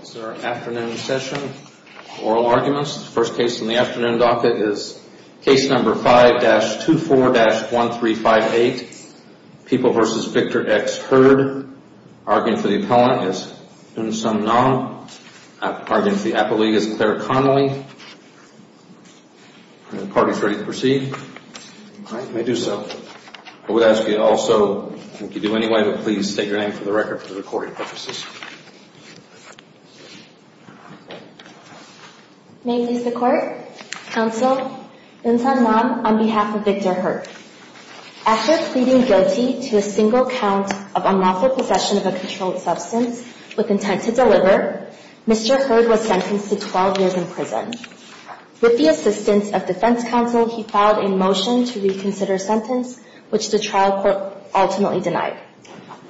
This is our afternoon session, Oral Arguments. First case on the afternoon docket is case number 5-24-1358, People v. Victor X. Hurd. Arguing for the appellant is Eun Sung Nam. Arguing for the apolyte is Claire Connolly. Are the parties ready to proceed? May I do so? I would ask you also, if you do anyway, to please state your name for the record for the recording purposes. May it please the Court, Counsel, Eun Sung Nam on behalf of Victor Hurd. After pleading guilty to a single count of unlawful possession of a controlled substance with intent to deliver, Mr. Hurd was sentenced to 12 years in prison. With the assistance of defense counsel, he filed a motion to reconsider his sentence, which the trial court ultimately denied.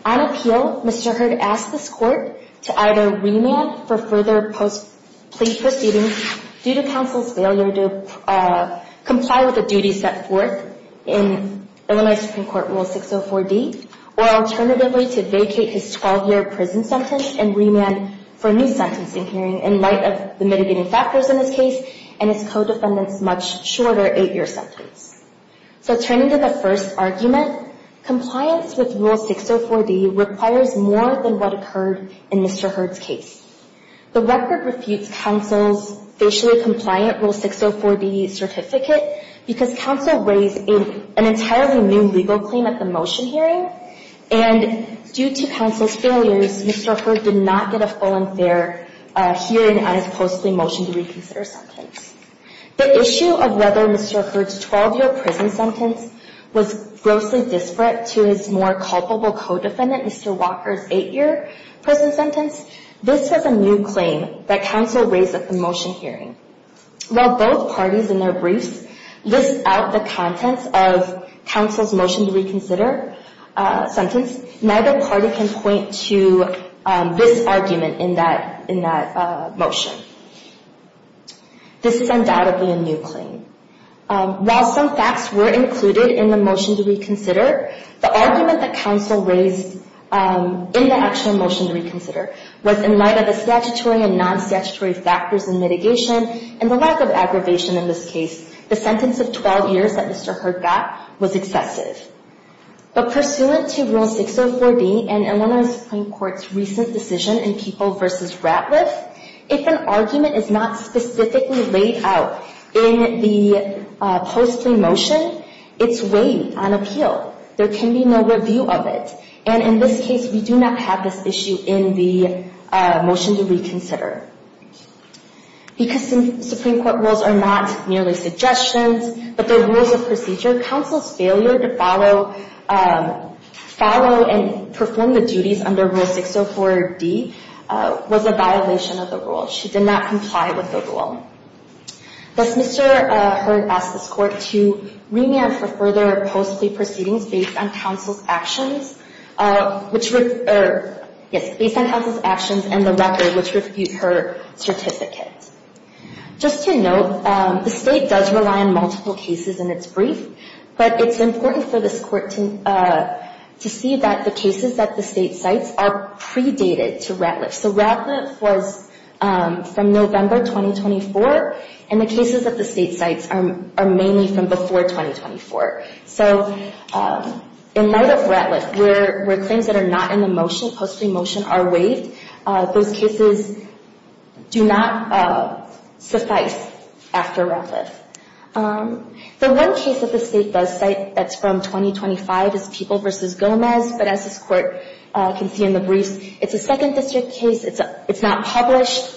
On appeal, Mr. Hurd asked this Court to either remand for further plea proceedings due to counsel's failure to comply with the duties set forth in Illinois Supreme Court Rule 604-D, or alternatively to vacate his 12-year prison sentence and remand for a new sentencing hearing in light of the mitigating factors in his case and his co-defendant's much shorter 8-year sentence. So turning to the first argument, compliance with Rule 604-D requires more than what occurred in Mr. Hurd's case. The record refutes counsel's facially compliant Rule 604-D certificate because counsel raised an entirely new legal claim at the motion hearing, and due to counsel's failures, Mr. Hurd did not get a full and fair hearing on his postly motion to reconsider sentence. The issue of whether Mr. Hurd's 12-year prison sentence was grossly disparate to his more culpable co-defendant, Mr. Walker's 8-year prison sentence, this was a new claim that counsel raised at the motion hearing. While both parties in their briefs list out the contents of counsel's motion to reconsider sentence, neither party can point to this argument in that motion. This is undoubtedly a new claim. While some facts were included in the motion to reconsider, the argument that counsel raised in the actual motion to reconsider was in light of the statutory and non-statutory factors in mitigation and the lack of aggravation in this case. The sentence of 12 years that Mr. Hurd got was excessive. But pursuant to Rule 604-D and Illinois Supreme Court's recent decision in People v. Ratliff, if an argument is not specifically laid out in the postly motion, it's weighed on appeal. There can be no review of it. And in this case, we do not have this issue in the motion to reconsider. Because Supreme Court rules are not merely suggestions, but they're rules of procedure, counsel's failure to follow and perform the duties under Rule 604-D was a violation of the rule. She did not comply with the rule. Thus, Mr. Hurd asked this court to remand for further post-plea proceedings based on counsel's actions and the record which reviewed her certificate. Just to note, the State does rely on multiple cases in its brief, but it's important for this court to see that the cases that the State cites are predated to Ratliff. So Ratliff was from November 2024, and the cases that the State cites are mainly from before 2024. So in light of Ratliff, where claims that are not in the motion, postly motion, are waived, those cases do not suffice after Ratliff. The one case that the State does cite that's from 2025 is People v. Gomez. But as this court can see in the briefs, it's a Second District case. It's not published.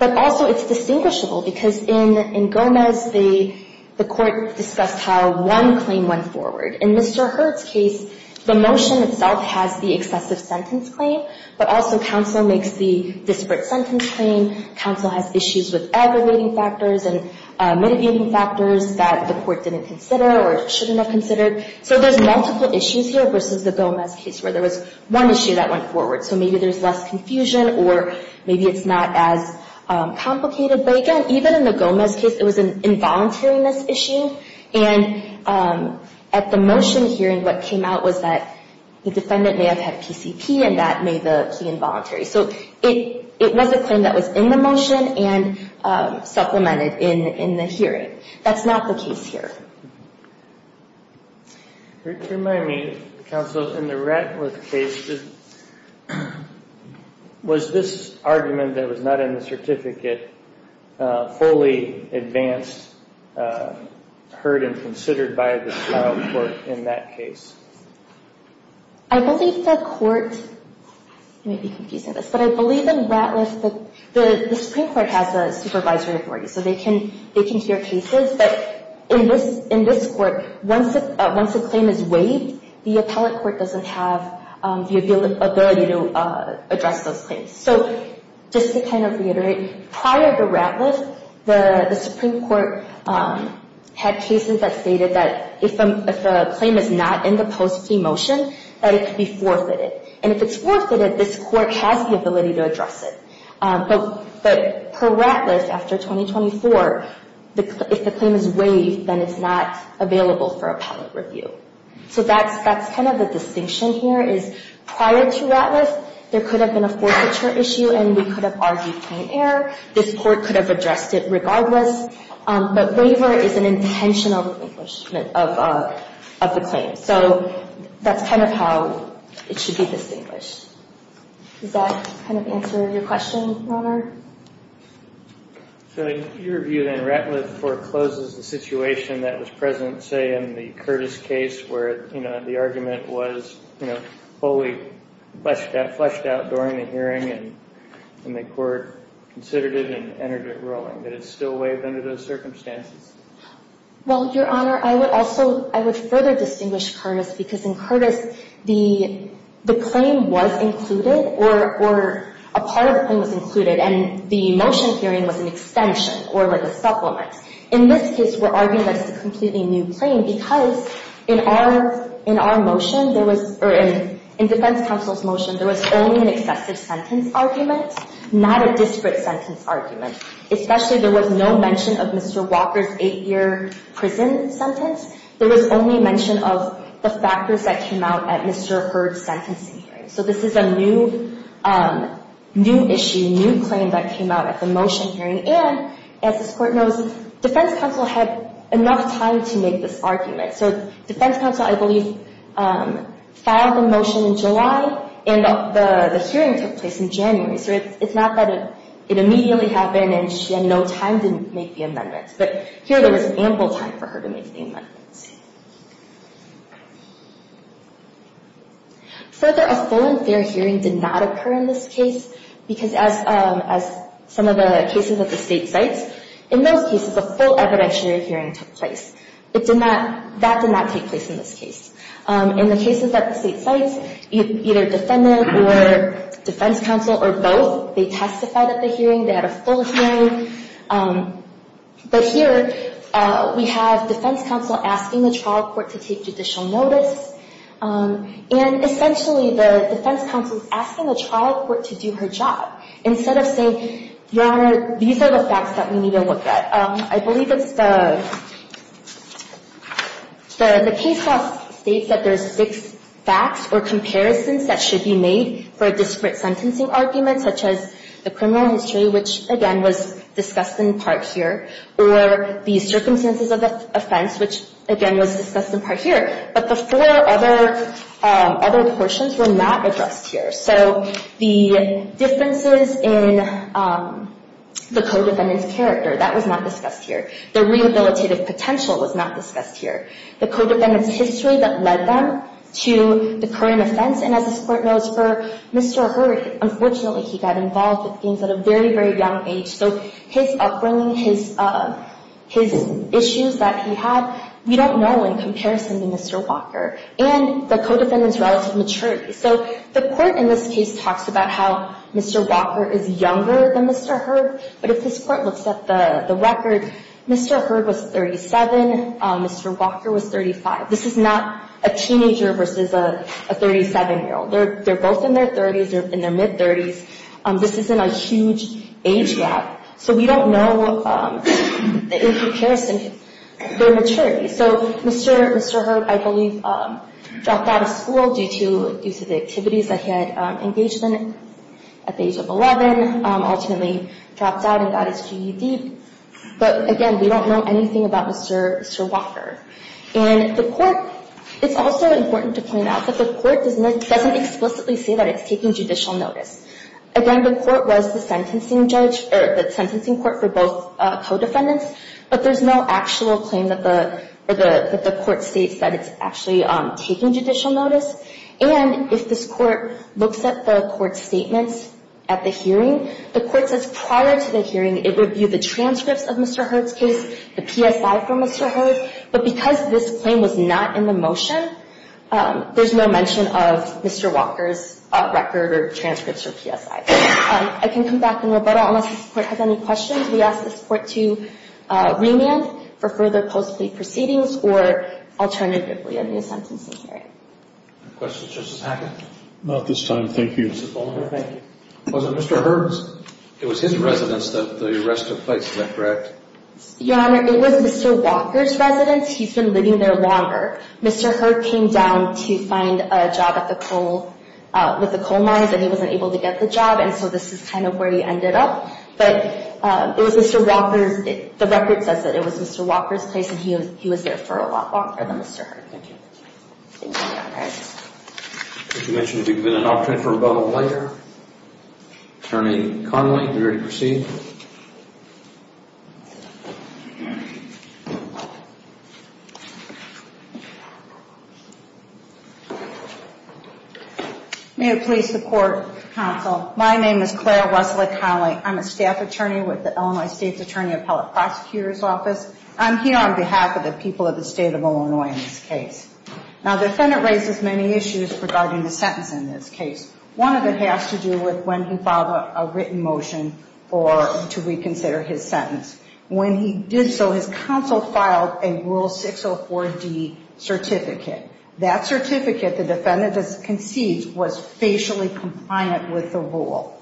But also, it's distinguishable, because in Gomez, the court discussed how one claim went forward. In Mr. Hurd's case, the motion itself has the excessive sentence claim, but also counsel makes the disparate sentence claim. Counsel has issues with aggregating factors and mitigating factors that the court didn't consider or shouldn't have considered. So there's multiple issues here versus the Gomez case, where there was one issue that went forward. So maybe there's less confusion, or maybe it's not as complicated. But again, even in the Gomez case, it was an involuntariness issue. And at the motion hearing, what came out was that the defendant may have had PCP, and that made the plea involuntary. So it was a claim that was in the motion and supplemented in the hearing. That's not the case here. Could you remind me, counsel, in the Ratliff case, was this argument that was not in the certificate fully advanced, heard, and considered by the trial court in that case? I believe the court – you may be confusing this – but I believe in Ratliff, the Supreme Court has a supervisory authority, so they can hear cases. But in this court, once a claim is waived, the appellate court doesn't have the ability to address those claims. So just to kind of reiterate, prior to Ratliff, the Supreme Court had cases that stated that if a claim is not in the post-plea motion, that it could be forfeited. And if it's forfeited, this court has the ability to address it. But per Ratliff, after 2024, if the claim is waived, then it's not available for appellate review. So that's kind of the distinction here, is prior to Ratliff, there could have been a forfeiture issue, and we could have argued plain error. This court could have addressed it regardless. But waiver is an intentional refingishment of the claim. So that's kind of how it should be distinguished. Does that kind of answer your question, Your Honor? So in your view, then, Ratliff forecloses the situation that was present, say, in the Curtis case, where the argument was fully fleshed out during the hearing, and the court considered it and entered it rolling. Did it still waive under those circumstances? Well, Your Honor, I would also – I would further distinguish Curtis, because in Curtis, the claim was included, or a part of the claim was included, and the motion hearing was an extension, or like a supplement. In this case, we're arguing that it's a completely new claim, because in our motion, there was – or in defense counsel's motion, there was only an excessive sentence argument, not a disparate sentence argument. Especially, there was no mention of Mr. Walker's eight-year prison sentence. There was only mention of the factors that came out at Mr. Hurd's sentencing hearing. So this is a new issue, new claim that came out at the motion hearing. And, as this court knows, defense counsel had enough time to make this argument. So defense counsel, I believe, filed the motion in July, and the hearing took place in January. So it's not that it immediately happened and she had no time to make the amendment. But here, there was ample time for her to make the amendment. Further, a full and fair hearing did not occur in this case, because as some of the cases at the state sites, in those cases, a full evidentiary hearing took place. It did not – that did not take place in this case. In the cases at the state sites, either defendant or defense counsel or both, they testified at the hearing. They had a full hearing. But here, we have defense counsel asking the trial court to take judicial notice. And essentially, the defense counsel is asking the trial court to do her job, instead of saying, Your Honor, these are the facts that we need to look at. I believe it's the – the case law states that there's six facts or comparisons that should be made for a disparate sentencing argument, such as the criminal history, which, again, was discussed in part here, or the circumstances of offense, which, again, was discussed in part here. But the four other – other portions were not addressed here. So the differences in the co-defendant's character, that was not discussed here. The rehabilitative potential was not discussed here. The co-defendant's history that led them to the current offense. And as this Court knows, for Mr. Hurd, unfortunately, he got involved with things at a very, very young age. So his upbringing, his – his issues that he had, we don't know in comparison to Mr. Walker. And the co-defendant's relative maturity. So the Court in this case talks about how Mr. Walker is younger than Mr. Hurd. But if this Court looks at the record, Mr. Hurd was 37. Mr. Walker was 35. This is not a teenager versus a 37-year-old. They're both in their 30s or in their mid-30s. This isn't a huge age gap. So we don't know in comparison their maturity. So Mr. Hurd, I believe, dropped out of school due to the activities that he had engaged in at the age of 11. Ultimately dropped out and got his GED. But, again, we don't know anything about Mr. Walker. And the Court – it's also important to point out that the Court doesn't explicitly say that it's taking judicial notice. Again, the Court was the sentencing judge – or the sentencing court for both co-defendants. But there's no actual claim that the Court states that it's actually taking judicial notice. And if this Court looks at the Court's statements at the hearing, the Court says prior to the hearing, it reviewed the transcripts of Mr. Hurd's case, the PSI for Mr. Hurd. But because this claim was not in the motion, there's no mention of Mr. Walker's record or transcripts or PSI. I can come back in Roberto unless this Court has any questions. We ask this Court to remand for further post-plea proceedings or alternatively a new sentencing hearing. Any questions, Justice Hackett? Not at this time, thank you. Mr. Bollinger, thank you. Was it Mr. Hurd's – it was his residence that the arrest took place, is that correct? Your Honor, it was Mr. Walker's residence. He's been living there longer. Mr. Hurd came down to find a job at the coal – with the coal mines, and he wasn't able to get the job, and so this is kind of where he ended up. But it was Mr. Walker's – the record says that it was Mr. Walker's place, and he was there for a lot longer than Mr. Hurd. Thank you. Thank you, Your Honor. As you mentioned, we've given an opportunity for a vote later. Attorney Connolly, are you ready to proceed? May it please the Court, Counsel, my name is Claire Wesley Connolly. I'm a staff attorney with the Illinois State's Attorney Appellate Prosecutor's Office. I'm here on behalf of the people of the State of Illinois in this case. Now, the defendant raises many issues regarding the sentence in this case. One of them has to do with when he filed a written motion for – to reconsider his sentence. When he did so, his counsel filed a Rule 604D certificate. That certificate, the defendant concedes, was facially compliant with the rule.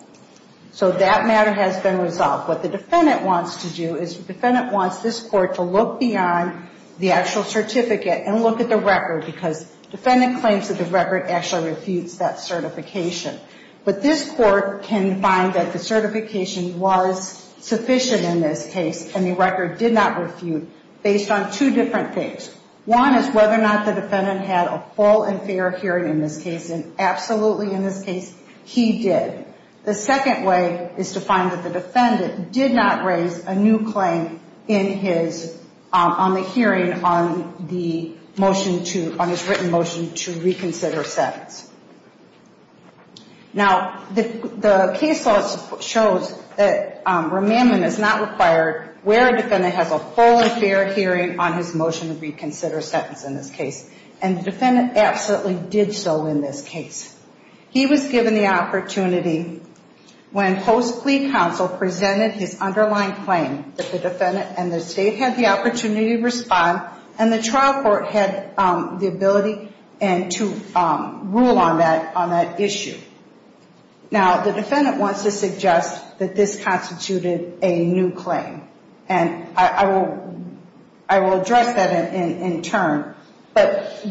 So that matter has been resolved. What the defendant wants to do is the defendant wants this Court to look beyond the actual certificate and look at the record because the defendant claims that the record actually refutes that certification. But this Court can find that the certification was sufficient in this case, and the record did not refute based on two different things. One is whether or not the defendant had a full and fair hearing in this case, and absolutely in this case, he did. The second way is to find that the defendant did not raise a new claim in his – on the hearing on the motion to – on his written motion to reconsider sentence. Now, the case law shows that remandment is not required where a defendant has a full and fair hearing on his motion to reconsider sentence in this case. And the defendant absolutely did so in this case. He was given the opportunity when post-plea counsel presented his underlying claim that the defendant and the State had the opportunity to respond, and the trial court had the ability to rule on that issue. Now, the defendant wants to suggest that this constituted a new claim, and I will address that in turn. But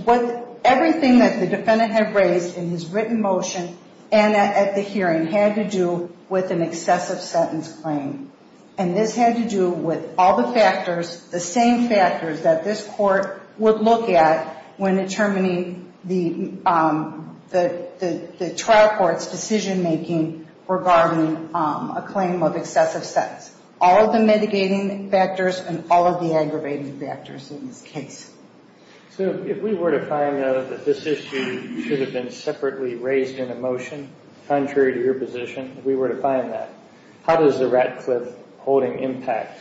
everything that the defendant had raised in his written motion and at the hearing had to do with an excessive sentence claim. And this had to do with all the factors, the same factors, that this Court would look at when determining the trial court's decision-making regarding a claim of excessive sentence. All of the mitigating factors and all of the aggravating factors in this case. So, if we were to find out that this issue should have been separately raised in a motion, contrary to your position, if we were to find that, how does the Ratcliffe holding impact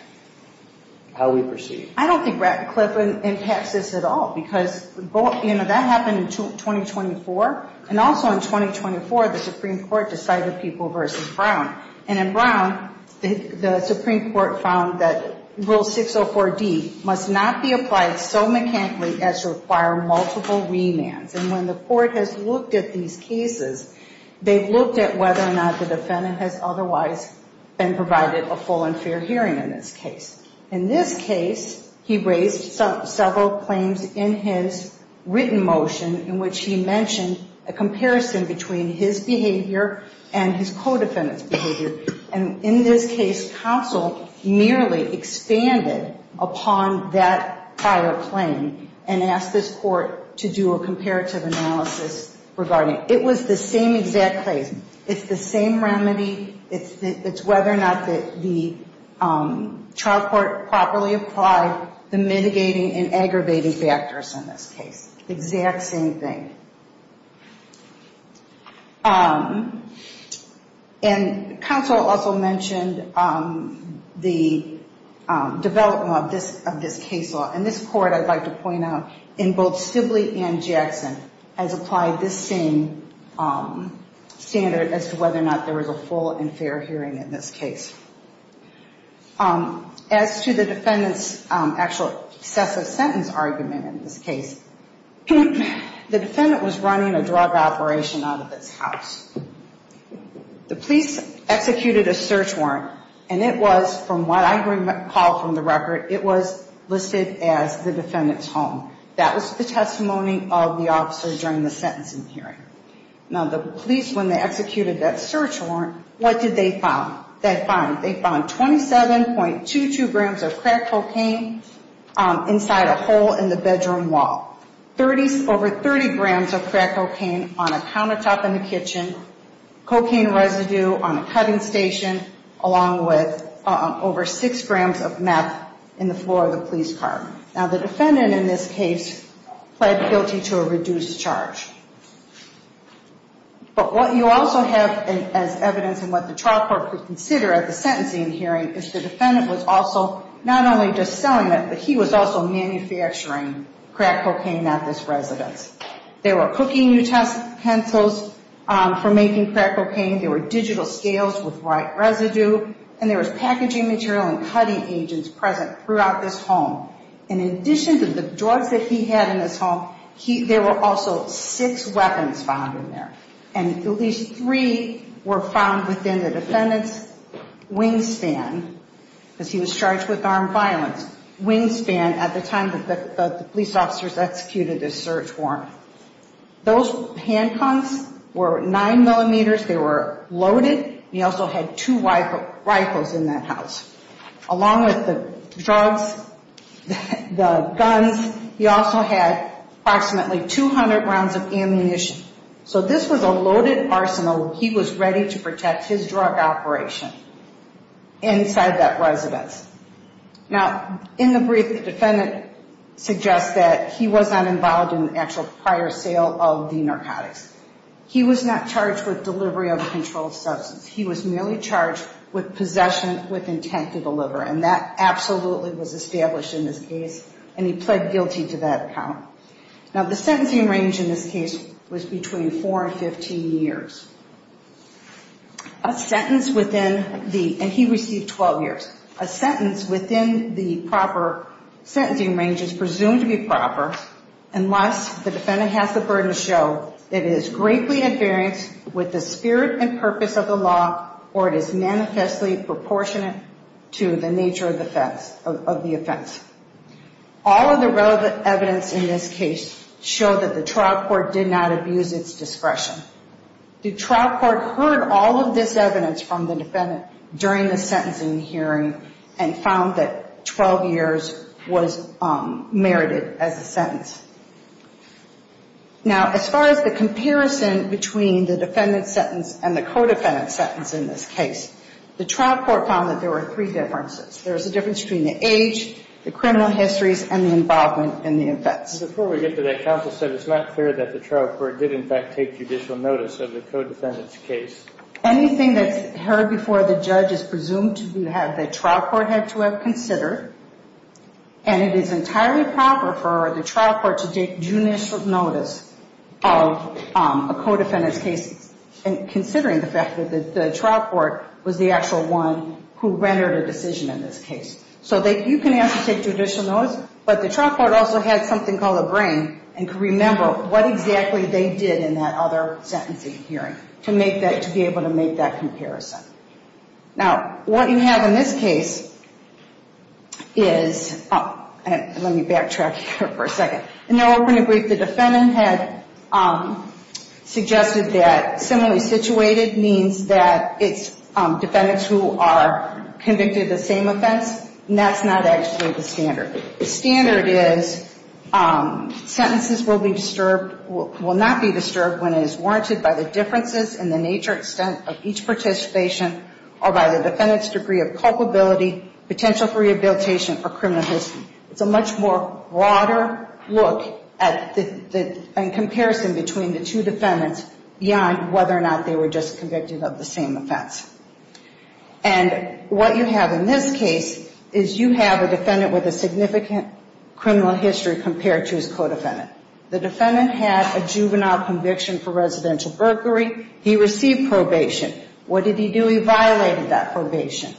how we proceed? I don't think Ratcliffe impacts this at all, because, you know, that happened in 2024. And also in 2024, the Supreme Court decided people versus Brown. And in Brown, the Supreme Court found that Rule 604D must not be applied so mechanically as to require multiple remands. And when the Court has looked at these cases, they've looked at whether or not the defendant has otherwise been provided a full and fair hearing in this case. In this case, he raised several claims in his written motion in which he mentioned a comparison between his behavior and his co-defendant's behavior. And in this case, counsel merely expanded upon that prior claim and asked this Court to do a comparative analysis regarding it. It was the same exact claim. It's the same remedy. It's whether or not the trial court properly applied the mitigating and aggravating factors in this case. It's the exact same thing. And counsel also mentioned the development of this case law. And this Court, I'd like to point out, in both Sibley and Jackson, has applied this same standard as to whether or not there was a full and fair hearing in this case. As to the defendant's actual excessive sentence argument in this case, the defendant was running a drug operation out of his house. The police executed a search warrant, and it was, from what I recall from the record, it was listed as the defendant's home. That was the testimony of the officer during the sentencing hearing. Now, the police, when they executed that search warrant, what did they find? They found 27.22 grams of crack cocaine inside a hole in the bedroom wall, over 30 grams of crack cocaine on a countertop in the kitchen, cocaine residue on a cutting station, along with over 6 grams of meth in the floor of the police car. Now, the defendant in this case pled guilty to a reduced charge. But what you also have as evidence and what the trial court could consider at the sentencing hearing is the defendant was also not only just selling it, but he was also manufacturing crack cocaine at this residence. There were cooking utensils for making crack cocaine. There were digital scales with right residue, and there was packaging material and cutting agents present throughout this home. And in addition to the drugs that he had in this home, there were also six weapons found in there, and at least three were found within the defendant's wingspan, because he was charged with armed violence, wingspan, at the time that the police officers executed this search warrant. Those handguns were 9 millimeters. They were loaded, and he also had two rifles in that house. Along with the drugs, the guns, he also had approximately 200 rounds of ammunition. So this was a loaded arsenal. He was ready to protect his drug operation inside that residence. Now, in the brief, the defendant suggests that he was not involved in the actual prior sale of the narcotics. He was not charged with delivery of a controlled substance. He was merely charged with possession with intent to deliver, and that absolutely was established in this case, and he pled guilty to that account. Now, the sentencing range in this case was between 4 and 15 years. A sentence within the – and he received 12 years. A sentence within the proper sentencing range is presumed to be proper unless the defendant has the burden to show that it is greatly invariant with the spirit and purpose of the law or it is manifestly proportionate to the nature of the offense. All of the relevant evidence in this case showed that the trial court did not abuse its discretion. The trial court heard all of this evidence from the defendant during the sentencing hearing and found that 12 years was merited as a sentence. Now, as far as the comparison between the defendant's sentence and the co-defendant's sentence in this case, the trial court found that there were three differences. There was a difference between the age, the criminal histories, and the involvement in the offense. But before we get to that, counsel said it's not clear that the trial court did, in fact, take judicial notice of the co-defendant's case. Anything that's heard before the judge is presumed to have that trial court had to have considered, and it is entirely proper for the trial court to take judicial notice of a co-defendant's case, considering the fact that the trial court was the actual one who rendered a decision in this case. So you can ask to take judicial notice, but the trial court also had something called a brain and could remember what exactly they did in that other sentencing hearing to be able to make that comparison. Now, what you have in this case is... Oh, let me backtrack here for a second. In their opening brief, the defendant had suggested that similarly situated means that it's defendants who are convicted of the same offense, and that's not actually the standard. The standard is sentences will not be disturbed when it is warranted by the differences in the nature and extent of each participation or by the defendant's degree of culpability, potential for rehabilitation, or criminal history. It's a much more broader look and comparison between the two defendants beyond whether or not they were just convicted of the same offense. And what you have in this case is you have a defendant with a significant criminal history compared to his co-defendant. The defendant had a juvenile conviction for residential burglary. He received probation. What did he do? He violated that probation.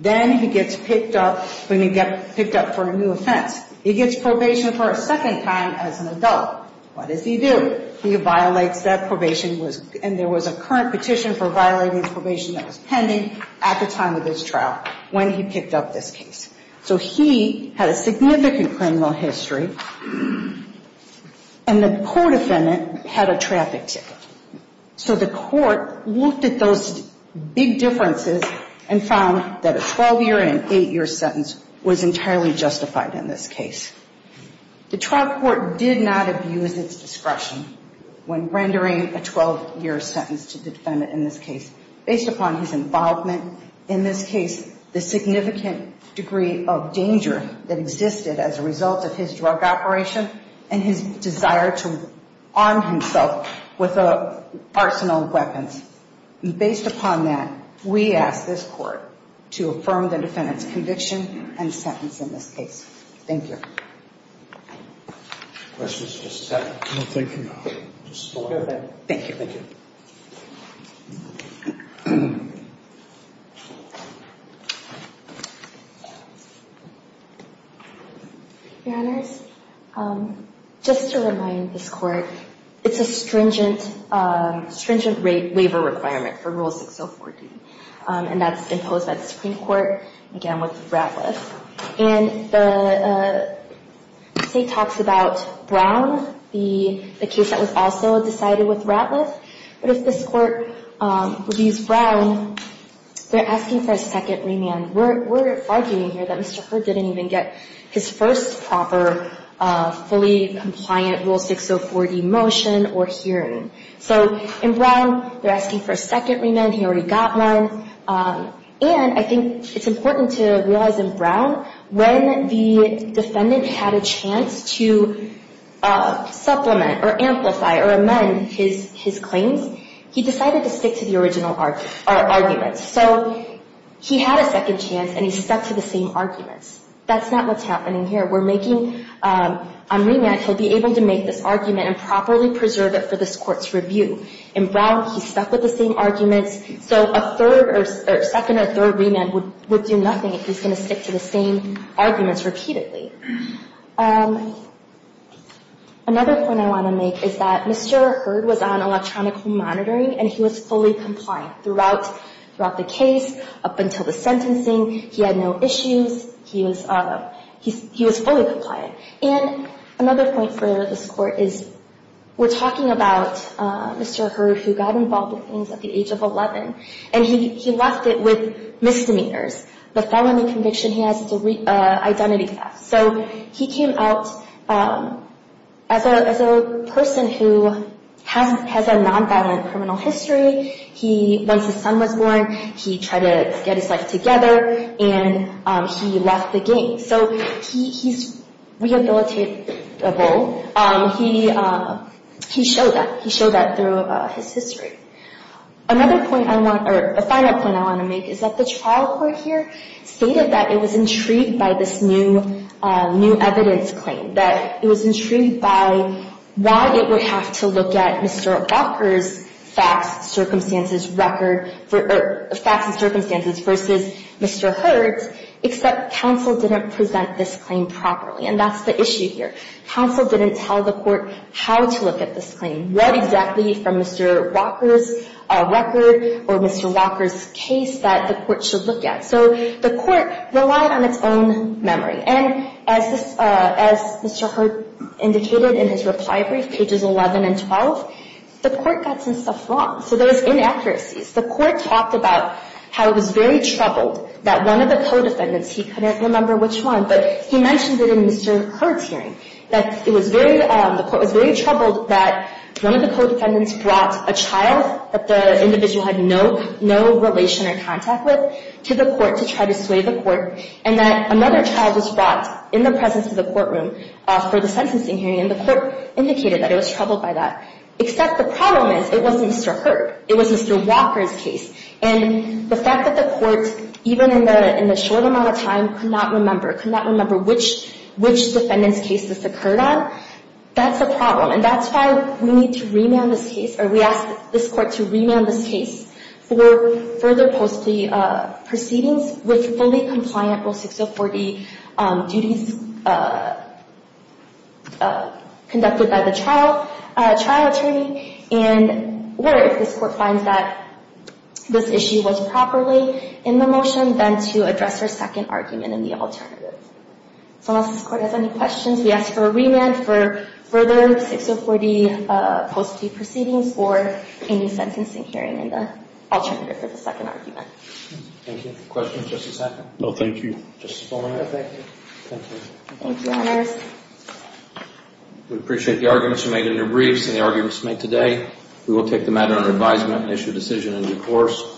Then he gets picked up for a new offense. He gets probation for a second time as an adult. What does he do? He violates that probation, and there was a current petition for violating probation that was pending at the time of this trial when he picked up this case. So he had a significant criminal history, and the co-defendant had a traffic ticket. So the court looked at those big differences and found that a 12-year and an 8-year sentence was entirely justified in this case. The trial court did not abuse its discretion when rendering a 12-year sentence to the defendant in this case based upon his involvement. In this case, the significant degree of danger that existed as a result of his drug operation and his desire to arm himself with an arsenal of weapons. Based upon that, we ask this court to affirm the defendant's conviction and sentence in this case. Thank you. Questions for the second? No, thank you. Thank you. Thank you. Your Honors, just to remind this court, it's a stringent waiver requirement for Rule 6014, and that's imposed by the Supreme Court, again, with Ratliff. And the state talks about Brown, the case that was also decided with Ratliff, but if this court reviews Brown, they're asking for a second remand. We're arguing here that Mr. Hurd didn't even get his first proper, fully compliant Rule 604D motion or hearing. So in Brown, they're asking for a second remand. He already got one. And I think it's important to realize in Brown, when the defendant had a chance to supplement or amplify or amend his claims, he decided to stick to the original argument. So he had a second chance, and he stuck to the same arguments. That's not what's happening here. On remand, he'll be able to make this argument and properly preserve it for this court's review. In Brown, he stuck with the same arguments, so a second or third remand would do nothing if he's going to stick to the same arguments repeatedly. Another point I want to make is that Mr. Hurd was on electronic home monitoring, and he was fully compliant throughout the case, up until the sentencing. He had no issues. He was fully compliant. And another point for this court is, we're talking about Mr. Hurd, who got involved with things at the age of 11, and he left it with misdemeanors. The felony conviction he has is an identity theft. So he came out as a person who has a nonviolent criminal history. Once his son was born, he tried to get his life together, and he left the gang. So he's rehabilitable. He showed that. He showed that through his history. A final point I want to make is that the trial court here stated that it was intrigued by this new evidence claim, that it was intrigued by why it would have to look at Mr. Walker's facts, circumstances record, or facts and circumstances versus Mr. Hurd's, except counsel didn't present this claim properly, and that's the issue here. Counsel didn't tell the court how to look at this claim, what exactly from Mr. Walker's record or Mr. Walker's case that the court should look at. So the court relied on its own memory, and as Mr. Hurd indicated in his reply brief, pages 11 and 12, the court got some stuff wrong. So there was inaccuracies. The court talked about how it was very troubled that one of the co-defendants, he couldn't remember which one, but he mentioned it in Mr. Hurd's hearing, that it was very troubled that one of the co-defendants brought a child that the individual had no relation or contact with to the court to try to sway the court, and that another child was brought in the presence of the courtroom for the sentencing hearing, and the court indicated that it was troubled by that, except the problem is it wasn't Mr. Hurd. It was Mr. Walker's case, and the fact that the court, even in the short amount of time, could not remember, could not remember which defendant's case this occurred on, that's a problem, and that's why we need to remand this case, or we ask this court to remand this case for further post-plea proceedings with fully compliant Rule 604D duties conducted by the trial attorney, or if this court finds that this issue was properly in the motion, then to address for a second argument in the alternative. So unless this court has any questions, we ask for a remand for further 604D post-plea proceedings or any sentencing hearing in the alternative for the second argument. Thank you. Questions, Justice Hackett? No, thank you. Justice Fuller? No, thank you. Thank you. Thank you, Honors. We appreciate the arguments you made in your briefs and the arguments you made today. We will take the matter under advisement and issue a decision in due course.